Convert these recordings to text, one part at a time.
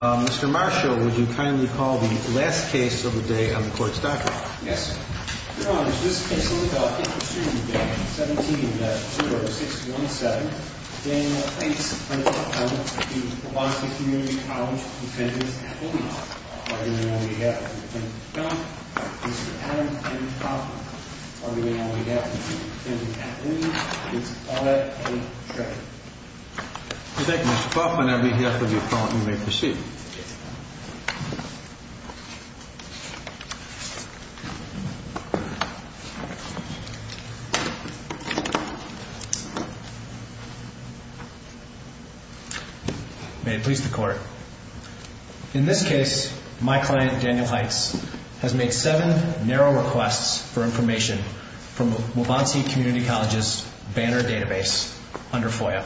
Mr. Marshall, would you kindly call the last case of the day on the Court's docket? Yes, Your Honor. This case will be called Hit Pursuit Day, 17-0617. Daniel Hites v. Waubonsee Community College, Defendant Kathleen. Argument on behalf of Defendant John, Mr. Adam, and Mr. Kaufman. Argument on behalf of Defendant Kathleen, Mr. Paulette, and Mr. Trevor. Thank you, Mr. Kaufman. I read the affidavit, Your Honor. You may proceed. May it please the Court. In this case, my client, Daniel Hites, has made seven narrow requests for information from Waubonsee Community College's Banner database under FOIA.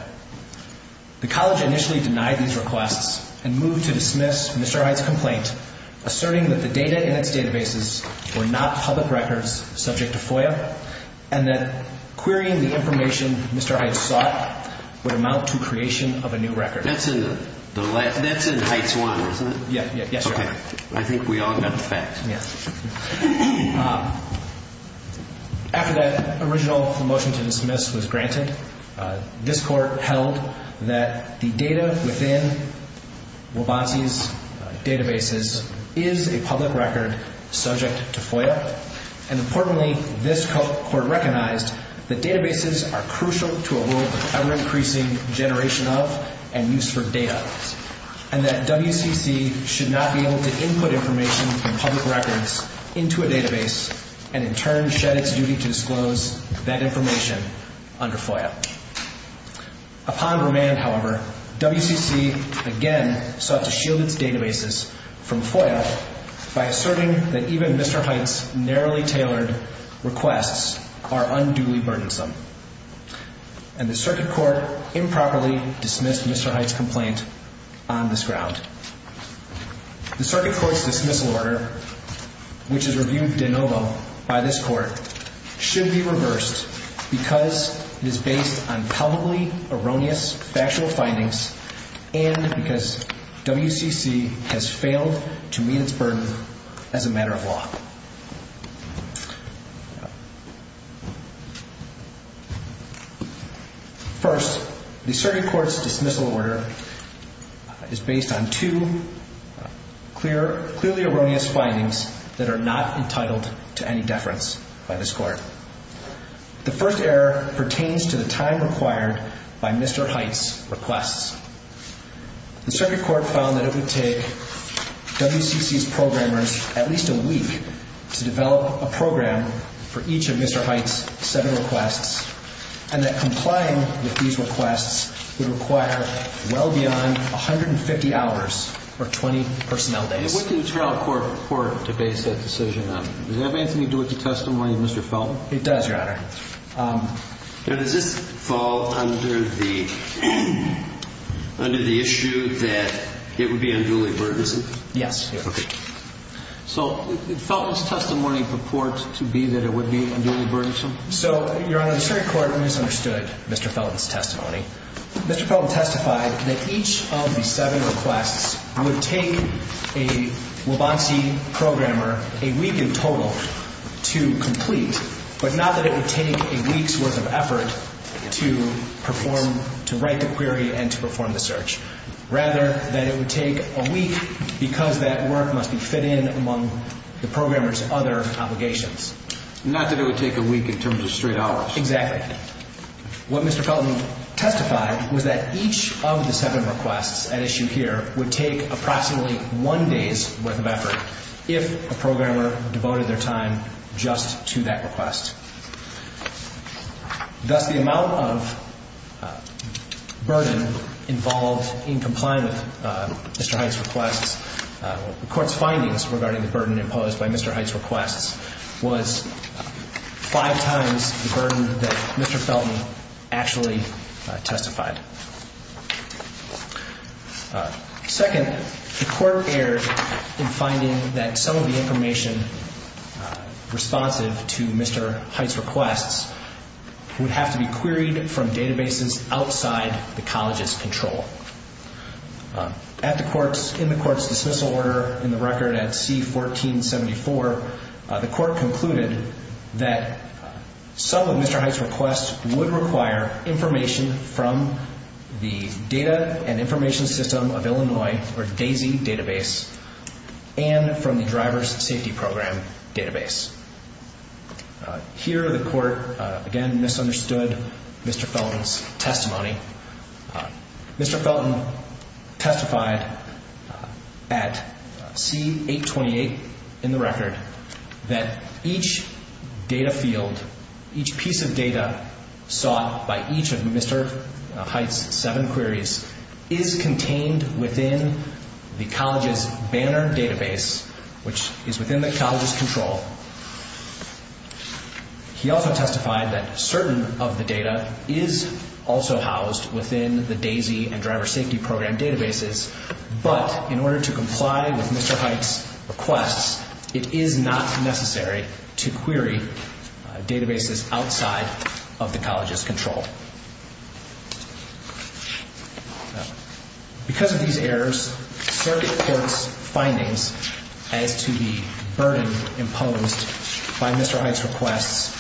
The College initially denied these requests and moved to dismiss Mr. Hites' complaint, asserting that the data in its databases were not public records subject to FOIA, and that querying the information Mr. Hites sought would amount to creation of a new record. That's in Hites 1, isn't it? Yes, Your Honor. I think we all got the facts. After that original motion to dismiss was granted, this Court held that the data within Waubonsee's databases is a public record subject to FOIA, and importantly, this Court recognized that databases are crucial to a world of ever-increasing generation of and use for data, and that WCC should not be able to input information from public records into a database and in turn shed its duty to disclose that information under FOIA. Upon remand, however, WCC again sought to shield its databases from FOIA by asserting that even Mr. Hites' narrowly tailored requests are unduly burdensome, and the Circuit Court improperly dismissed Mr. Hites' complaint on this ground. The Circuit Court's dismissal order, which is reviewed de novo by this Court, should be reversed because it is based on palpably erroneous factual findings and because WCC has failed to meet its burden as a matter of law. First, the Circuit Court's dismissal order is based on two clearly erroneous findings that are not entitled to any deference by this Court. The first error pertains to the time required by Mr. Hites' requests. The Circuit Court found that it would take WCC's programmers at least a week to develop a program for each of Mr. Hites' seven requests, and that complying with these requests would require well beyond 150 hours or 20 personnel days. And what do you tell a court to base that decision on? Does that make any do with the testimony of Mr. Felton? It does, Your Honor. Now, does this fall under the issue that it would be unduly burdensome? Yes. Okay. So, Felton's testimony purports to be that it would be unduly burdensome? So, Your Honor, the Circuit Court misunderstood Mr. Felton's testimony. Mr. Felton testified that each of the seven requests would take a Wabansi programmer a week in total to complete, but not that it would take a week's worth of effort to perform, to write the query and to perform the search. Rather, that it would take a week because that work must be fit in among the programmer's other obligations. Not that it would take a week in terms of straight hours. Exactly. What Mr. Felton testified was that each of the seven requests at issue here would take approximately one day's worth of effort if a programmer devoted their time just to that request. Thus, the amount of burden involved in complying with Mr. Hite's requests, the Court's findings regarding the burden imposed by Mr. Hite's requests, was five times the burden that Mr. Felton actually testified. Second, the Court erred in finding that some of the information responsive to Mr. Hite's requests would have to be queried from databases outside the College's control. In the Court's dismissal order in the record at C-1474, the Court concluded that some of Mr. Hite's requests would require information from the Data and Information System of Illinois, or DAISY, database and from the Driver's Safety Program database. Here, the Court again misunderstood Mr. Felton's testimony. Mr. Felton testified at C-828 in the record that each data field, each piece of data sought by each of Mr. Hite's seven queries is contained within the College's Banner database, which is within the College's control. He also testified that certain of the data is also housed within the DAISY and Driver's Safety Program databases, but in order to comply with Mr. Hite's requests, it is not necessary to query databases outside of the College's control. Because of these errors, the Circuit Court's findings as to the burden imposed by Mr. Hite's requests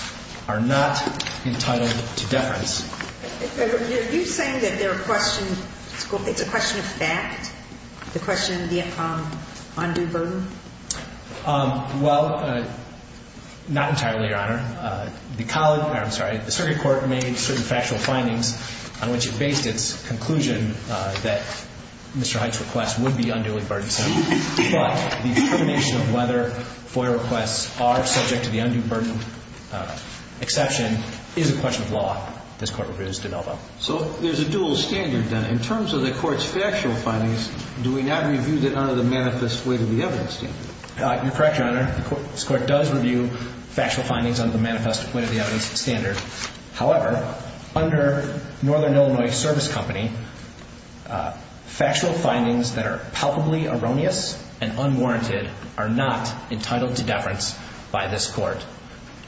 are not entitled to deference. Are you saying that they're a question, it's a question of fact? The question of the undue burden? Well, not entirely, Your Honor. The College, I'm sorry, the Circuit Court made certain factual findings on which it faced its conclusion that Mr. Hite's request would be unduly burdensome. But the determination of whether FOIA requests are subject to the undue burden exception is a question of law this Court has developed. So there's a dual standard then. In terms of the Court's factual findings, do we not review them under the manifest weight of the evidence standard? You're correct, Your Honor. This Court does review factual findings under the manifest weight of the evidence standard. However, under Northern Illinois Service Company, factual findings that are palpably erroneous and unwarranted are not entitled to deference by this Court.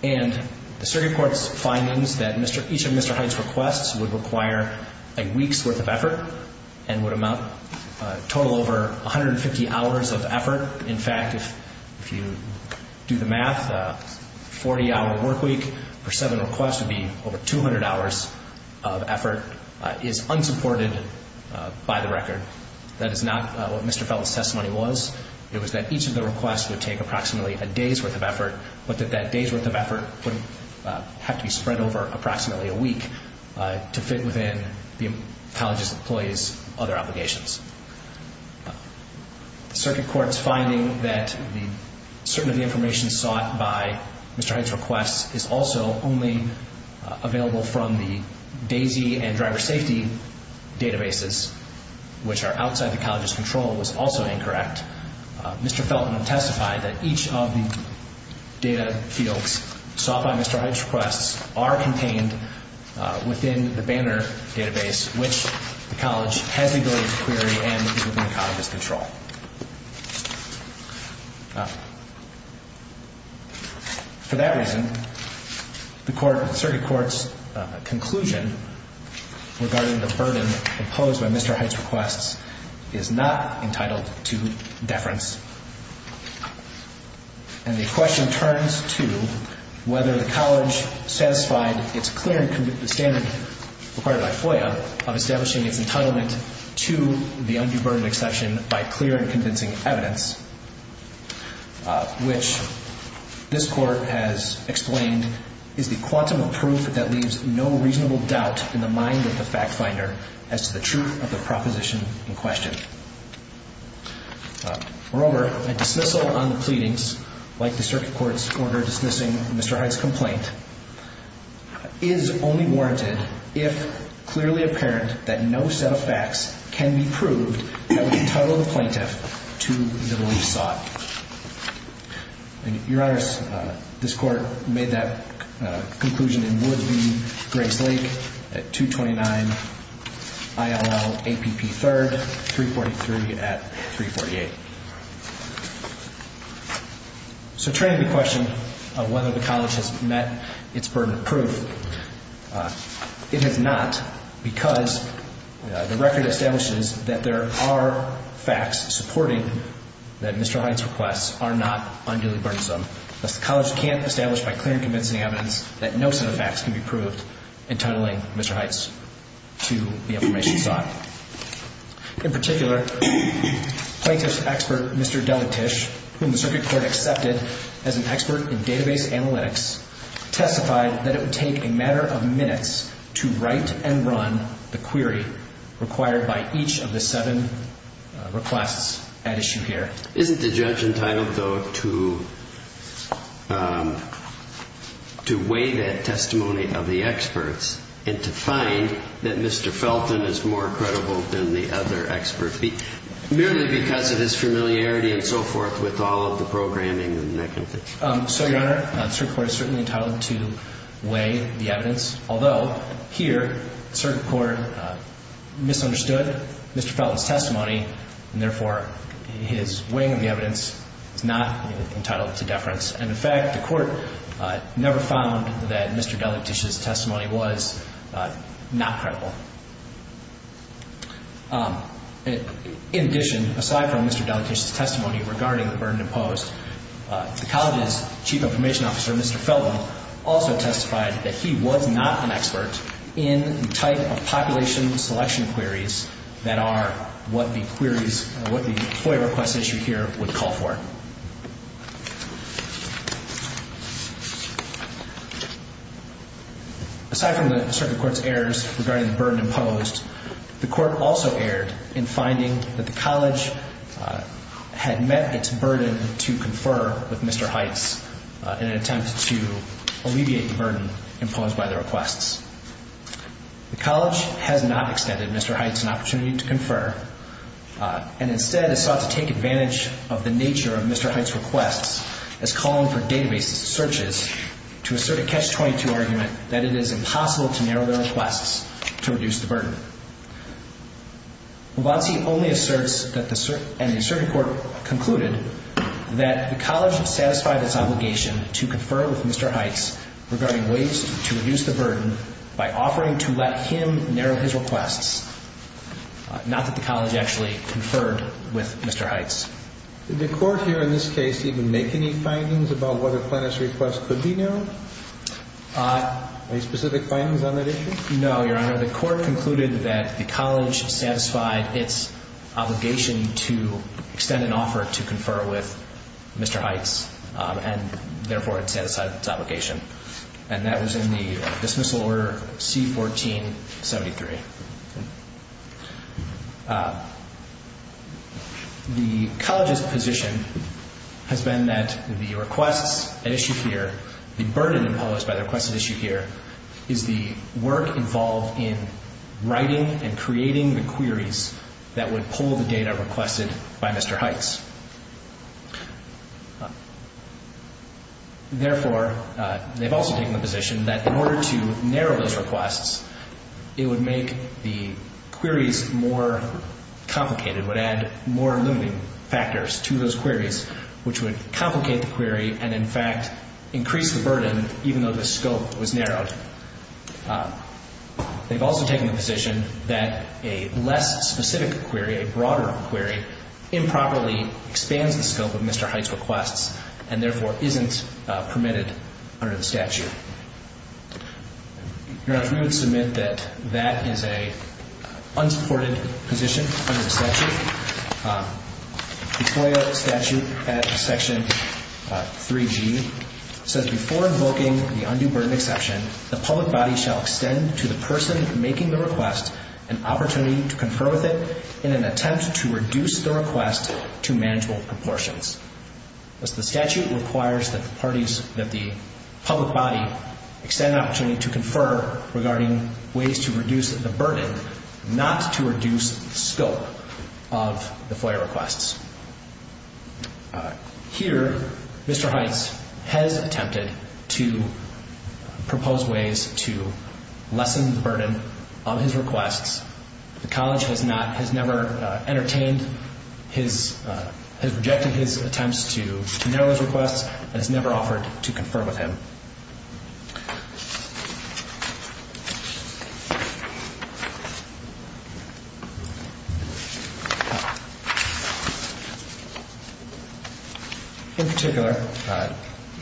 And the Circuit Court's findings that each of Mr. Hite's requests would require a week's worth of effort and would amount, total over 150 hours of effort. In fact, if you do the math, a 40-hour work week for seven requests would be over 200 hours of effort, is unsupported by the record. That is not what Mr. Felt's testimony was. It was that each of the requests would take approximately a day's worth of effort, but that that day's worth of effort would have to be spread over approximately a week to fit within the college's employees' other obligations. The Circuit Court's finding that certain of the information sought by Mr. Hite's requests is also only available from the DAISY and driver safety databases, which are outside the college's control, was also incorrect. Mr. Felton will testify that each of the data fields sought by Mr. Hite's requests are contained within the Banner database, which the college has the ability to query and is within the college's control. For that reason, the Circuit Court's conclusion regarding the burden imposed by Mr. Hite's requests is not entitled to deference. And the question turns to whether the college satisfied the standard required by FOIA of establishing its entitlement to the undue burden exception by clear and convincing evidence. Which, this Court has explained, is the quantum of proof that leaves no reasonable doubt in the mind of the fact finder as to the truth of the proposition in question. Moreover, a dismissal on the pleadings, like the Circuit Court's order dismissing Mr. Hite's complaint, is only warranted if clearly apparent that no set of facts can be proved that would entitle the plaintiff to the relief sought. Your Honors, this Court made that conclusion in Woodley-Grace Lake at 229 ILL APP 3rd, 343 at 348. So, training the question of whether the college has met its burden of proof, it has not because the record establishes that there are facts supporting that Mr. Hite's requests are not unduly burdensome. Thus, the college can't establish by clear and convincing evidence that no set of facts can be proved entitling Mr. Hite to the information sought. In particular, plaintiff's expert, Mr. Delatish, whom the Circuit Court accepted as an expert in database analytics, testified that it would take a matter of minutes to write and run the query required by each of the seven requests at issue here. Isn't the judge entitled, though, to weigh that testimony of the experts and to find that Mr. Felton is more credible than the other experts, merely because of his familiarity and so forth with all of the programming and that kind of thing? So, Your Honor, the Circuit Court is certainly entitled to weigh the evidence. Although, here, the Circuit Court misunderstood Mr. Felton's testimony and, therefore, his weighing of the evidence is not entitled to deference. And, in fact, the court never found that Mr. Delatish's testimony was not credible. In addition, aside from Mr. Delatish's testimony regarding the burden imposed, the College's Chief Information Officer, Mr. Felton, also testified that he was not an expert in the type of population selection queries that are what the query's, what the FOIA request issue here would call for. Aside from the Circuit Court's errors regarding the burden imposed, the court also erred in finding that the College had met its burden to confer with Mr. Heitz in an attempt to alleviate the burden imposed by the requests. The College has not extended Mr. Heitz an opportunity to confer and, instead, has sought to take advantage of the nature of Mr. Heitz's requests as calling for database searches to assert a Catch-22 argument that it is impossible to narrow their requests to reduce the burden. Wabatsi only asserts that the, and the Circuit Court concluded, that the College has satisfied its obligation to confer with Mr. Heitz regarding ways to reduce the burden by offering to let him narrow his requests, not that the College actually conferred with Mr. Heitz. Did the Court here, in this case, even make any findings about whether Clintus' requests could be narrowed? Any specific findings on that issue? No, Your Honor. The Court concluded that the College satisfied its obligation to extend an offer to confer with Mr. Heitz and, therefore, it satisfied its obligation. And that was in the dismissal order C-1473. The College's position has been that the requests at issue here, the burden imposed by the requests at issue here, is the work involved in writing and creating the queries that would pull the data requested by Mr. Heitz. Therefore, they've also taken the position that in order to narrow those requests, it would make the queries more complicated, would add more limiting factors to those queries, which would complicate the query and, in fact, increase the burden even though the scope was narrowed. They've also taken the position that a less specific query, a broader query, improperly expands the scope of Mr. Heitz' requests and, therefore, isn't permitted under the statute. Your Honor, we would submit that that is an unsupported position under the statute. The FOIA statute at Section 3G says, Before invoking the undue burden exception, the public body shall extend to the person making the request an opportunity to confer with it in an attempt to reduce the request to manageable proportions. Thus, the statute requires that the parties, that the public body, extend an opportunity to confer regarding ways to reduce the burden, not to reduce the scope of the FOIA requests. Here, Mr. Heitz has attempted to propose ways to lessen the burden of his requests. The college has not, has never entertained his, has rejected his attempts to narrow his requests and has never offered to confer with him. In particular, the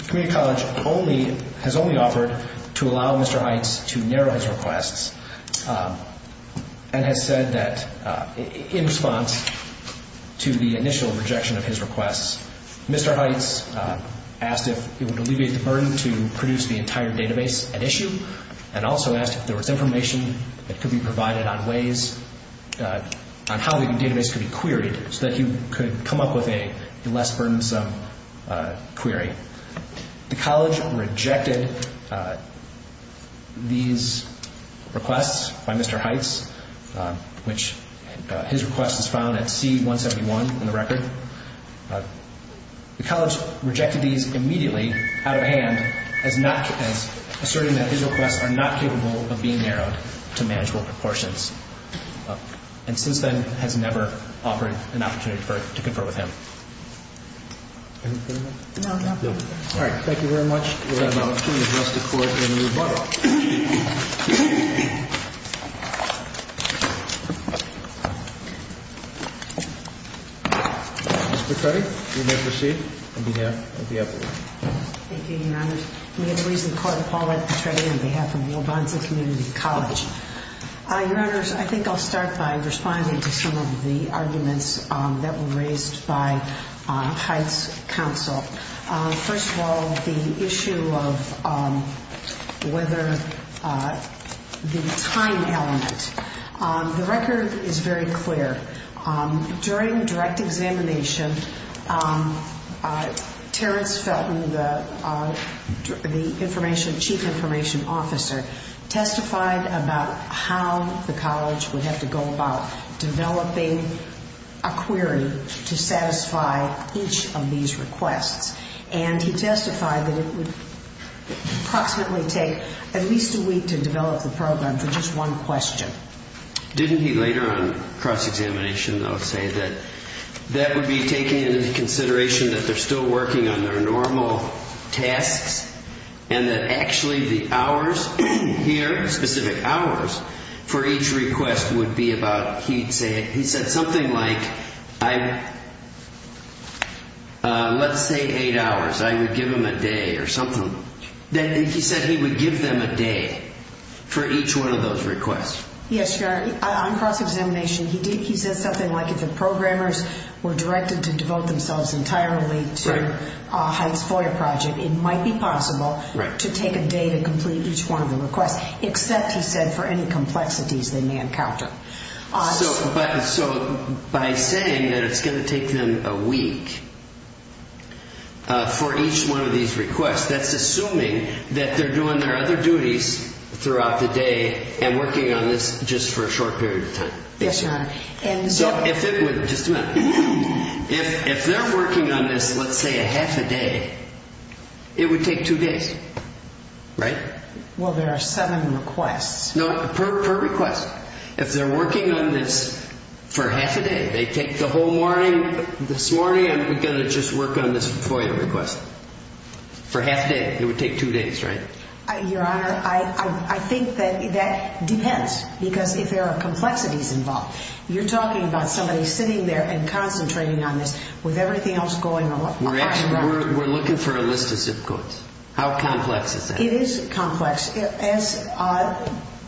community college only, has only offered to allow Mr. Heitz to narrow his requests. And has said that, in response to the initial rejection of his requests, Mr. Heitz asked if it would alleviate the burden to produce the entire database at issue and also asked if there was information that could be provided on ways, on how the database could be queried so that he could come up with a less burdensome query. The college rejected these requests by Mr. Heitz, which his request is found at C-171 in the record. The college rejected these immediately out of hand as not, as asserting that his requests are not capable of being narrowed to manageable proportions. And since then, has never offered an opportunity to confer with him. All right, thank you very much. We'll have an opportunity to address the court in the rebuttal. Ms. Petretti, you may proceed on behalf of the appellate. Thank you, your honors. I'm here to raise the court of Paulette Petretti on behalf of New Brunswick Community College. Your honors, I think I'll start by responding to some of the arguments that were raised by Heitz's counsel. First of all, the issue of whether the time element. The record is very clear. During direct examination, Terrence Felton, the chief information officer, testified about how the college would have to go about developing a query to satisfy each of these requests. And he testified that it would approximately take at least a week to develop the program for just one question. Didn't he later on cross-examination, though, say that that would be taken into consideration that they're still working on their normal tasks, and that actually the hours here, specific hours, for each request would be about, he said something like, let's say eight hours. I would give them a day or something. And he said he would give them a day for each one of those requests. Yes, your honor. On cross-examination, he did. He said something like if the programmers were directed to devote themselves entirely to Heitz FOIA project, it might be possible to take a day to complete each one of the requests, except, he said, for any complexities they may encounter. So by saying that it's going to take them a week for each one of these requests, that's assuming that they're doing their other duties throughout the day and working on this just for a short period of time. Yes, your honor. Just a minute. If they're working on this, let's say a half a day, it would take two days, right? Well, there are seven requests. No, per request. If they're working on this for half a day, they take the whole morning, this morning I'm going to just work on this FOIA request. For half a day, it would take two days, right? Your honor, I think that depends, because if there are complexities involved. You're talking about somebody sitting there and concentrating on this, with everything else going on. We're looking for a list of zip codes. How complex is that? It is complex. As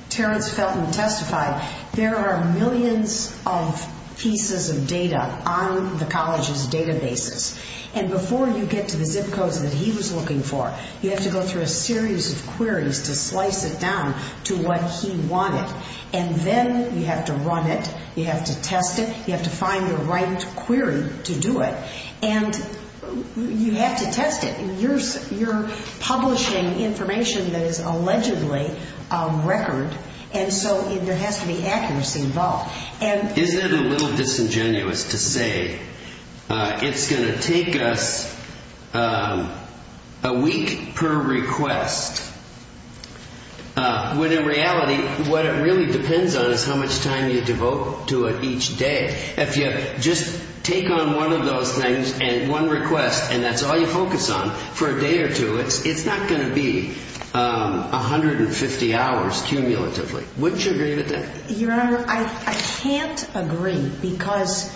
Terrence Felton testified, there are millions of pieces of data on the college's databases. And before you get to the zip codes that he was looking for, you have to go through a series of queries to slice it down to what he wanted. And then you have to run it, you have to test it, you have to find the right query to do it. And you have to test it. You're publishing information that is allegedly record, and so there has to be accuracy involved. Isn't it a little disingenuous to say it's going to take us a week per request? When in reality, what it really depends on is how much time you devote to it each day. If you just take on one of those things, one request, and that's all you focus on, for a day or two, it's not going to be 150 hours cumulatively. Wouldn't you agree with that? Your Honor, I can't agree because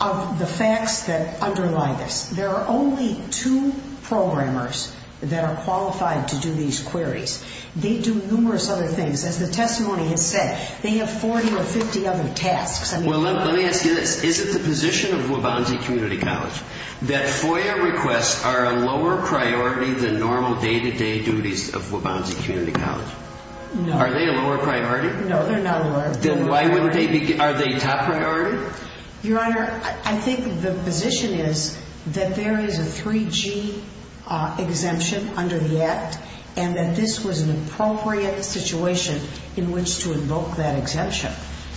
of the facts that underlie this. There are only two programmers that are qualified to do these queries. They do numerous other things. As the testimony has said, they have 40 or 50 other tasks. Well, let me ask you this. Is it the position of Waubonsie Community College that FOIA requests are a lower priority than normal day-to-day duties of Waubonsie Community College? Are they a lower priority? No, they're not a lower priority. Then why wouldn't they be? Are they top priority? Your Honor, I think the position is that there is a 3G exemption under the Act, and that this was an appropriate situation in which to invoke that exemption.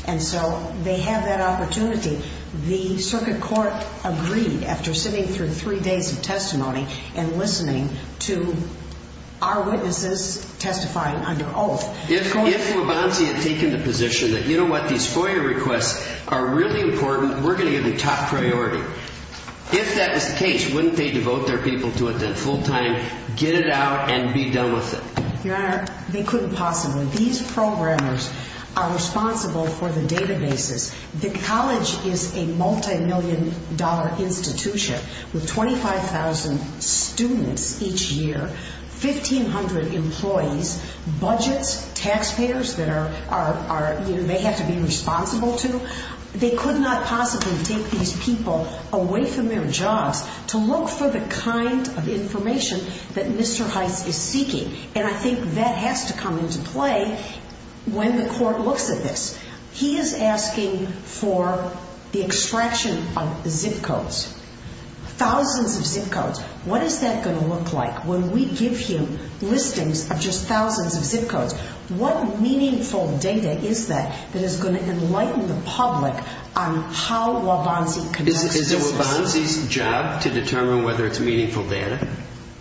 And so they have that opportunity. The Circuit Court agreed after sitting through three days of testimony and listening to our witnesses testifying under oath. If Waubonsie had taken the position that, you know what, these FOIA requests are really important, we're going to give them top priority. If that was the case, wouldn't they devote their people to it full-time, get it out, and be done with it? Your Honor, they couldn't possibly. These programmers are responsible for the databases. The College is a multimillion-dollar institution with 25,000 students each year, 1,500 employees, budgets, taxpayers that are, you know, they have to be responsible to. They could not possibly take these people away from their jobs to look for the kind of information that Mr. Heitz is seeking. And I think that has to come into play when the Court looks at this. He is asking for the extraction of zip codes, thousands of zip codes. What is that going to look like when we give him listings of just thousands of zip codes? What meaningful data is that that is going to enlighten the public on how Waubonsie connects to this? Is it Waubonsie's job to determine whether it's meaningful data?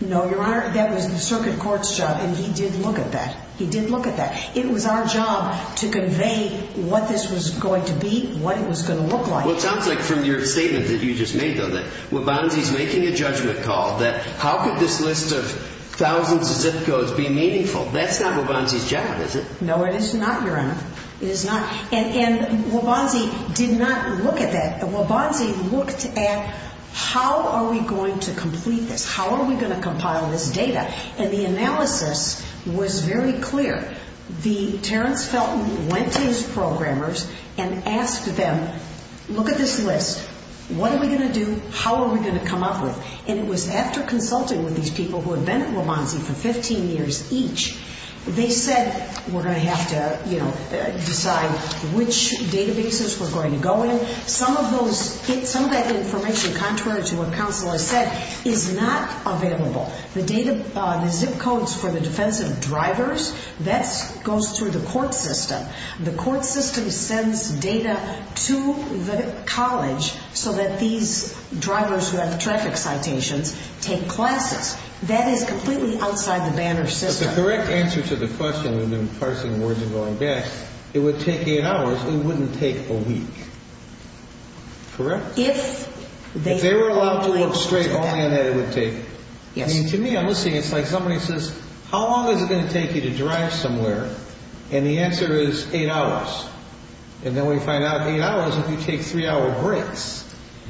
No, Your Honor, that was the Circuit Court's job, and he did look at that. He did look at that. It was our job to convey what this was going to be, what it was going to look like. Well, it sounds like from your statement that you just made, though, that Waubonsie's making a judgment call that how could this list of thousands of zip codes be meaningful? That's not Waubonsie's job, is it? No, it is not, Your Honor. It is not. And Waubonsie did not look at that. Waubonsie looked at how are we going to complete this? How are we going to compile this data? And the analysis was very clear. Terrence Felton went to his programmers and asked them, look at this list. What are we going to do? How are we going to come up with it? And it was after consulting with these people who had been at Waubonsie for 15 years each, they said we're going to have to decide which databases we're going to go in. Some of that information, contrary to what counsel has said, is not available. The zip codes for the defensive drivers, that goes through the court system. The court system sends data to the college so that these drivers who have traffic citations take classes. That is completely outside the Banner system. But the correct answer to the question, we've been parsing words and going back, it would take eight hours, it wouldn't take a week. Correct? If they were allowed to look straight on it, it would take. To me, I'm listening, it's like somebody says, how long is it going to take you to drive somewhere? And the answer is eight hours. And then we find out eight hours if you take three hour breaks.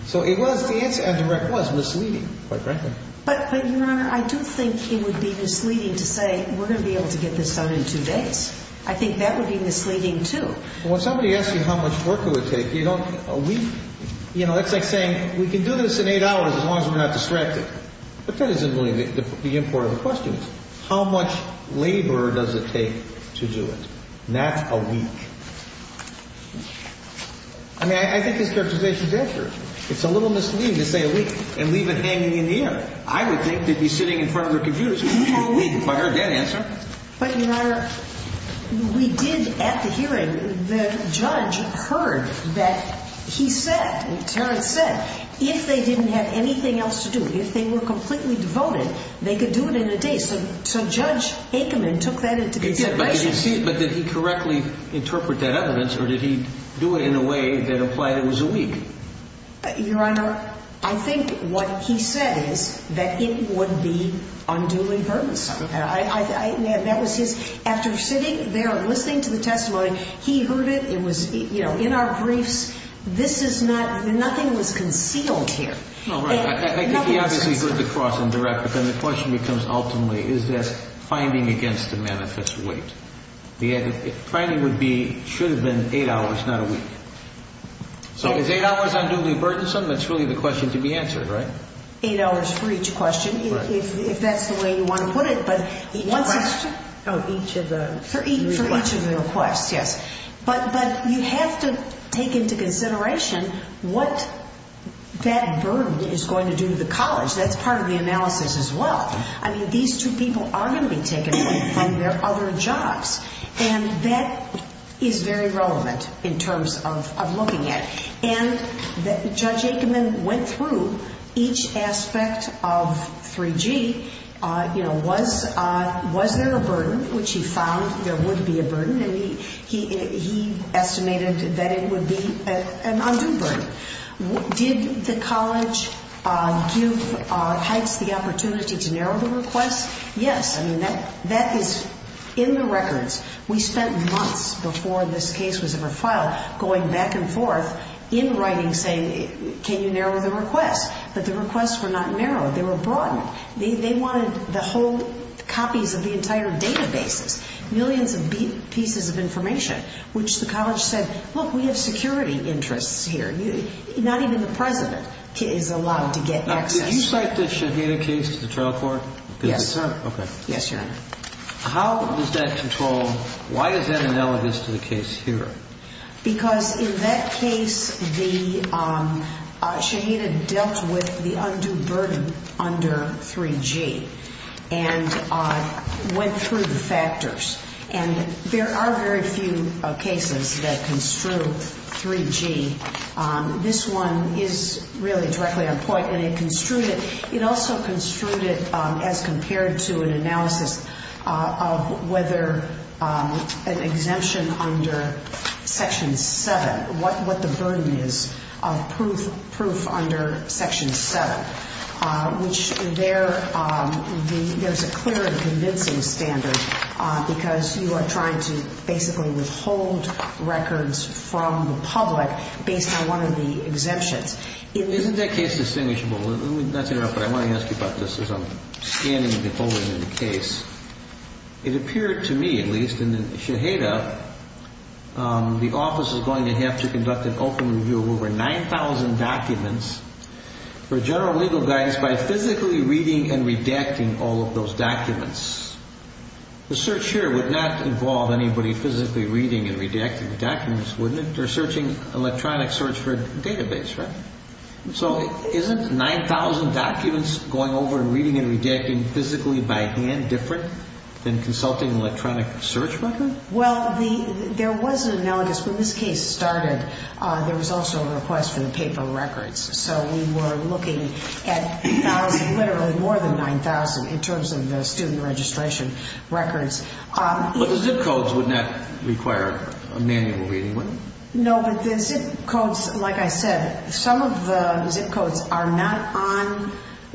So it was, the answer I direct was misleading, quite frankly. But, Your Honor, I do think it would be misleading to say we're going to be able to get this done in two days. I think that would be misleading too. When somebody asks you how much work it would take, you don't, a week. You know, it's like saying, we can do this in eight hours as long as we're not distracted. But that isn't really the import of the question. How much labor does it take to do it? Not a week. I mean, I think this characterization is accurate. It's a little misleading to say a week and leave it hanging in the air. I would think they'd be sitting in front of their computers. If I heard that answer. But, Your Honor, we did at the hearing, the judge heard that he said, Terrence said, if they didn't have anything else to do, if they were completely devoted, they could do it in a day. So Judge Aikman took that into consideration. But did he correctly interpret that evidence or did he do it in a way that implied it was a week? Your Honor, I think what he said is that it would be unduly burdensome. That was his, after sitting there and listening to the testimony, he heard it. It was, you know, in our briefs, this is not, nothing was concealed here. No, right. I think he obviously heard the cross and direct. But then the question becomes ultimately, is this finding against a man if it's a week? The finding would be, should have been eight hours, not a week. So is eight hours unduly burdensome? That's really the question to be answered, right? Eight hours for each question, if that's the way you want to put it. Each question? For each of the requests, yes. But you have to take into consideration what that burden is going to do to the college. That's part of the analysis as well. I mean, these two people are going to be taken away from their other jobs. And that is very relevant in terms of looking at it. And Judge Aikman went through each aspect of 3G. You know, was there a burden, which he found there would be a burden. And he estimated that it would be an undue burden. Did the college give Heights the opportunity to narrow the request? Yes. I mean, that is in the records. We spent months before this case was ever filed going back and forth. They were in writing saying, can you narrow the request? But the requests were not narrowed. They were broadened. They wanted the whole copies of the entire databases. Millions of pieces of information. Which the college said, look, we have security interests here. Not even the president is allowed to get access. Now, did you cite the Shahena case to the trial court? Yes, sir. Yes, Your Honor. How was that controlled? Why is that analogous to the case here? Because in that case, the, Shahena dealt with the undue burden under 3G. And went through the factors. And there are very few cases that construe 3G. This one is really directly on point. And it construed it, it also construed it as compared to an analysis of whether an exemption under Section 7. What the burden is of proof under Section 7. Which there is a clear and convincing standard. Because you are trying to basically withhold records from the public. Based on one of the exemptions. Isn't that case distinguishable? I want to ask you about this as I'm scanning and beholding the case. It appeared to me, at least, in the Shahena, the office is going to have to conduct an open review of over 9,000 documents for general legal guidance by physically reading and redacting all of those documents. The search here would not involve anybody physically reading and redacting the documents, wouldn't it? They're searching electronic search for a database, right? So isn't 9,000 documents going over and reading and redacting physically by hand different than consulting an electronic search record? Well, there was an analogous, when this case started, there was also a request for the paper records. So we were looking at literally more than 9,000 in terms of the student registration records. But the zip codes would not require a manual reading, would they? No, but the zip codes, like I said, some of the zip codes are not on,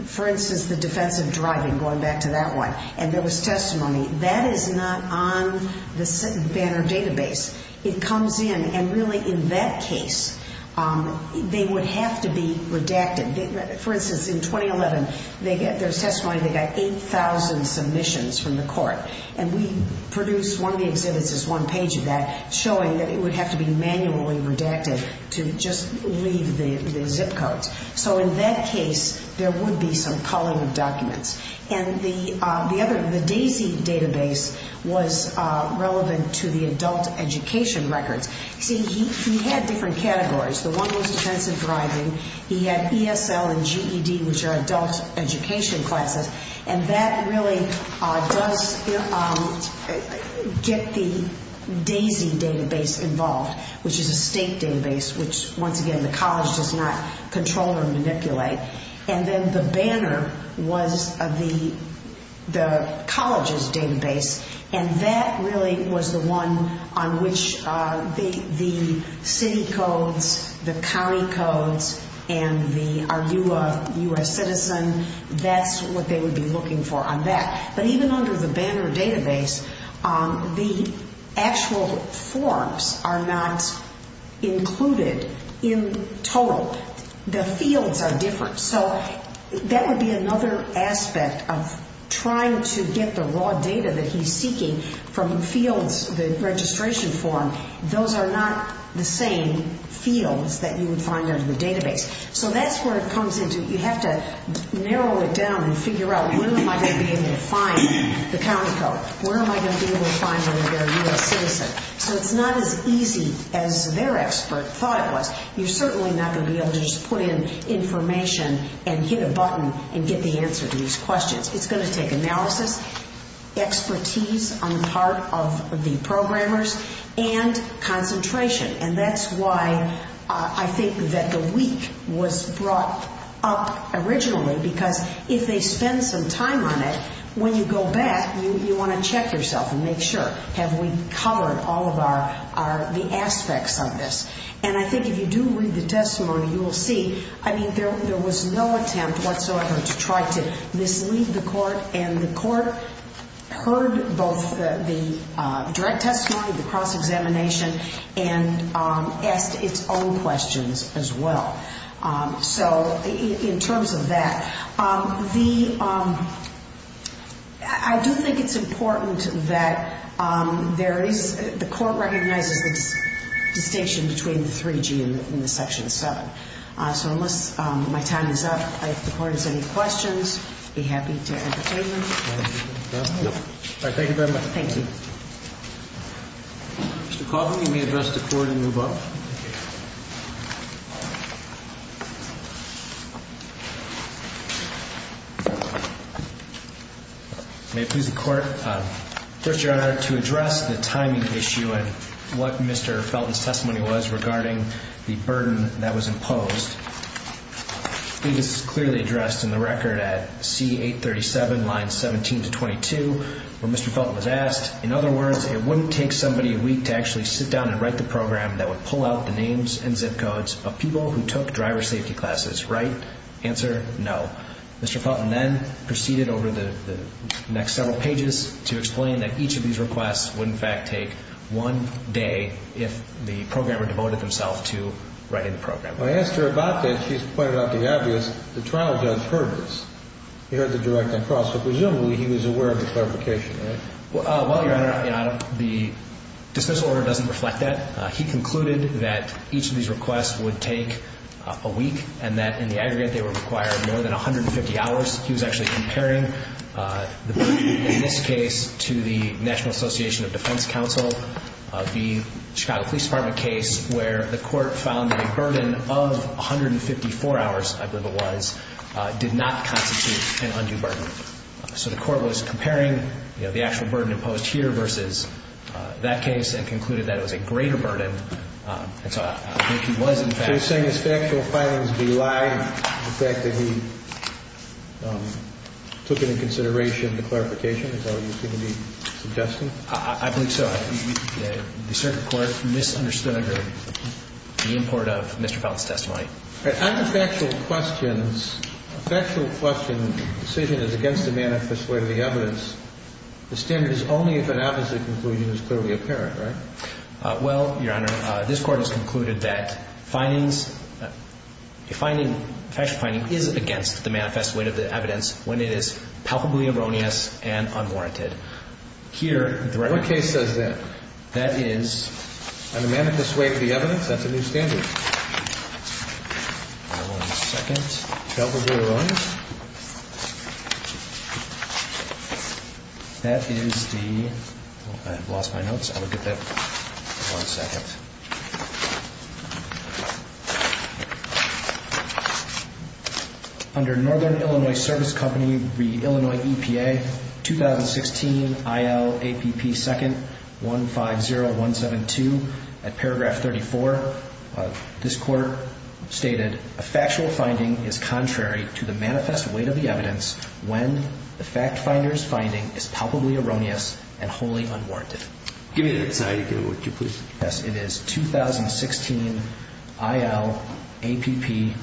for instance, the defense of driving, going back to that one. And there was testimony. That is not on the Banner database. It comes in and really in that case, they would have to be redacted. For instance, in 2011, there was testimony, they got 8,000 submissions from the court. And we produced one of the exhibits as one page of that, showing that it would have to be manually redacted to just leave the zip codes. So in that case, there would be some calling of documents. And the other, the DAISY database was relevant to the adult education records. See, he had different categories. The one was defense of driving. He had ESL and GED, which are adult education classes. And that really does get the DAISY database involved, which is a state database, which, once again, the college does not control or manipulate. And then the Banner was the college's database. And that really was the one on which the city codes, the county codes, and the are you a U.S. citizen, that's what they would be looking for on that. But even under the Banner database, the actual forms are not included in total. The fields are different. So that would be another aspect of trying to get the raw data that he's seeking from fields, the registration form. Those are not the same fields that you would find under the database. So that's where it comes into, you have to narrow it down and figure out, where am I going to be able to find the county code? Where am I going to be able to find the are you a U.S. citizen? So it's not as easy as their expert thought it was. You're certainly not going to be able to just put in information and hit a button and get the answer to these questions. It's going to take analysis, expertise on the part of the programmers, and concentration. And that's why I think that the week was brought up originally, because if they spend some time on it, when you go back, you want to check yourself and make sure, have we covered all of the aspects of this? And I think if you do read the testimony, you will see, I mean, there was no attempt whatsoever to try to mislead the court. And the court heard both the direct testimony, the cross-examination, and asked its own questions as well. So in terms of that, I do think it's important that there is, the court recognizes the distinction between the 3G and the Section 7. So unless my time is up, if the court has any questions, be happy to entertain them. Thank you very much. Thank you. Mr. Coughlin, you may address the Court and move up. May it please the Court. First, Your Honor, to address the timing issue and what Mr. Felton's testimony was regarding the burden that was imposed, I think this is clearly addressed in the record at C-837, lines 17 to 22, where Mr. Felton was asked, in other words, it wouldn't take somebody a week to actually sit down and write the program that would pull out the names and zip codes of people who took driver safety classes, right? Answer, no. Mr. Felton then proceeded over the next several pages to explain that each of these requests would in fact take one day if the programmer devoted himself to writing the program. When I asked her about that, she pointed out the obvious. The trial judge heard this. He heard the direct and cross, so presumably he was aware of the clarification, right? Well, Your Honor, the dismissal order doesn't reflect that. He concluded that each of these requests would take a week and that in the aggregate they would require more than 150 hours. He was actually comparing the burden in this case to the National Association of Defense Counsel, the Chicago Police Department case, where the court found that a burden of 154 hours, I believe it was, did not constitute an undue burden. So the court was comparing the actual burden imposed here versus that case and concluded that it was a greater burden. And so I think he was in fact... So you're saying his factual findings belied the fact that he took into consideration the clarification, is how you seem to be suggesting? I believe so. The circuit court misunderstood the import of Mr. Felt's testimony. On the factual questions, a factual question decision is against the manifest weight of the evidence. The standard is only if an opposite conclusion is clearly apparent, right? Well, Your Honor, this Court has concluded that findings, a factual finding is against the manifest weight of the evidence when it is palpably erroneous and unwarranted. Here, the regular case says that. That is on the manifest weight of the evidence. That's a new standard. One second. Palpably erroneous. That is the... I've lost my notes. I'll get that in one second. Under Northern Illinois Service Company, the Illinois EPA, 2016 IL APP 2nd 150172, at paragraph 34, this Court stated, a factual finding is contrary to the manifest weight of the evidence when the fact finder's finding is palpably erroneous and wholly unwarranted. Give me the next slide again, would you please? Yes, it is 2016 IL APP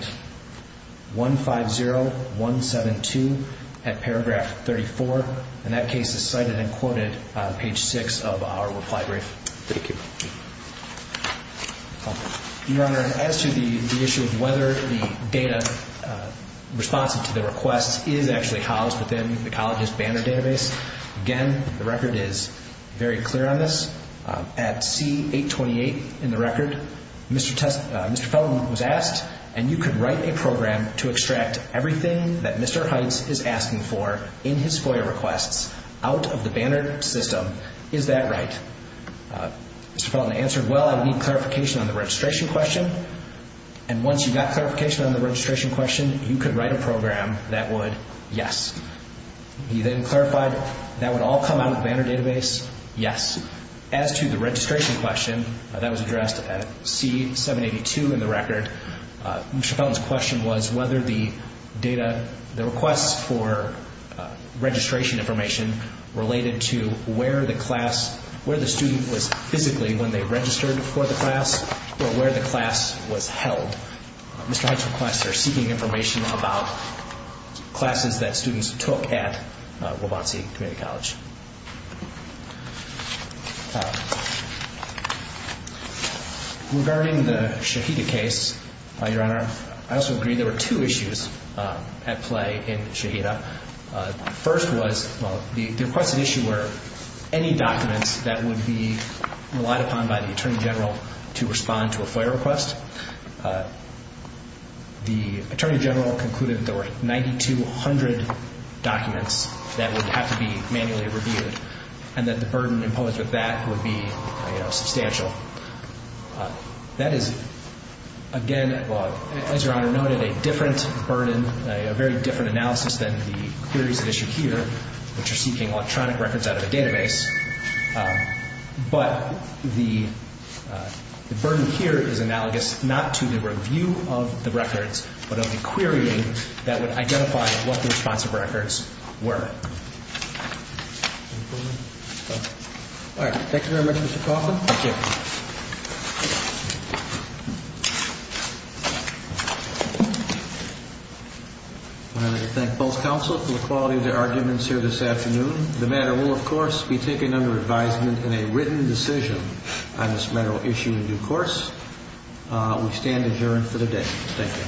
2nd 150172, at paragraph 34, and that case is cited and quoted on page 6 of our reply brief. Thank you. Your Honor, as to the issue of whether the data responsive to the request is actually housed within the college's Banner database, again, the record is very clear on this. At C828 in the record, Mr. Felton was asked, and you could write a program to extract everything that Mr. Heitz is asking for in his FOIA requests out of the Banner system. Is that right? Mr. Felton answered, well, I need clarification on the registration question. And once you got clarification on the registration question, you could write a program that would, yes. He then clarified that would all come out of the Banner database, yes. As to the registration question, that was addressed at C782 in the record, Mr. Felton's question was whether the data, the requests for registration information related to where the class, where the student was physically when they registered for the class, or where the class was held. Mr. Heitz's requests are seeking information about classes that students took at Wabansi Community College. Regarding the Shahida case, Mr. Brenner, I also agree there were two issues at play in Shahida. First was, well, the requested issue were any documents that would be relied upon by the Attorney General to respond to a FOIA request. The Attorney General concluded there were 9,200 documents that would have to be manually reviewed, so that is, again, as Your Honor noted, a different burden, a very different analysis than the queries at issue here, which are seeking electronic records out of the database. But the burden here is analogous not to the review of the records, but of the querying that would identify what the responsive records were. Thank you, Your Honor. All right. Thank you very much, Mr. Kaufman. Thank you. I'd like to thank both counsel for the quality of their arguments here this afternoon. The matter will, of course, be taken under advisement in a written decision on this matter issued in due course. We stand adjourned for the day. Thank you.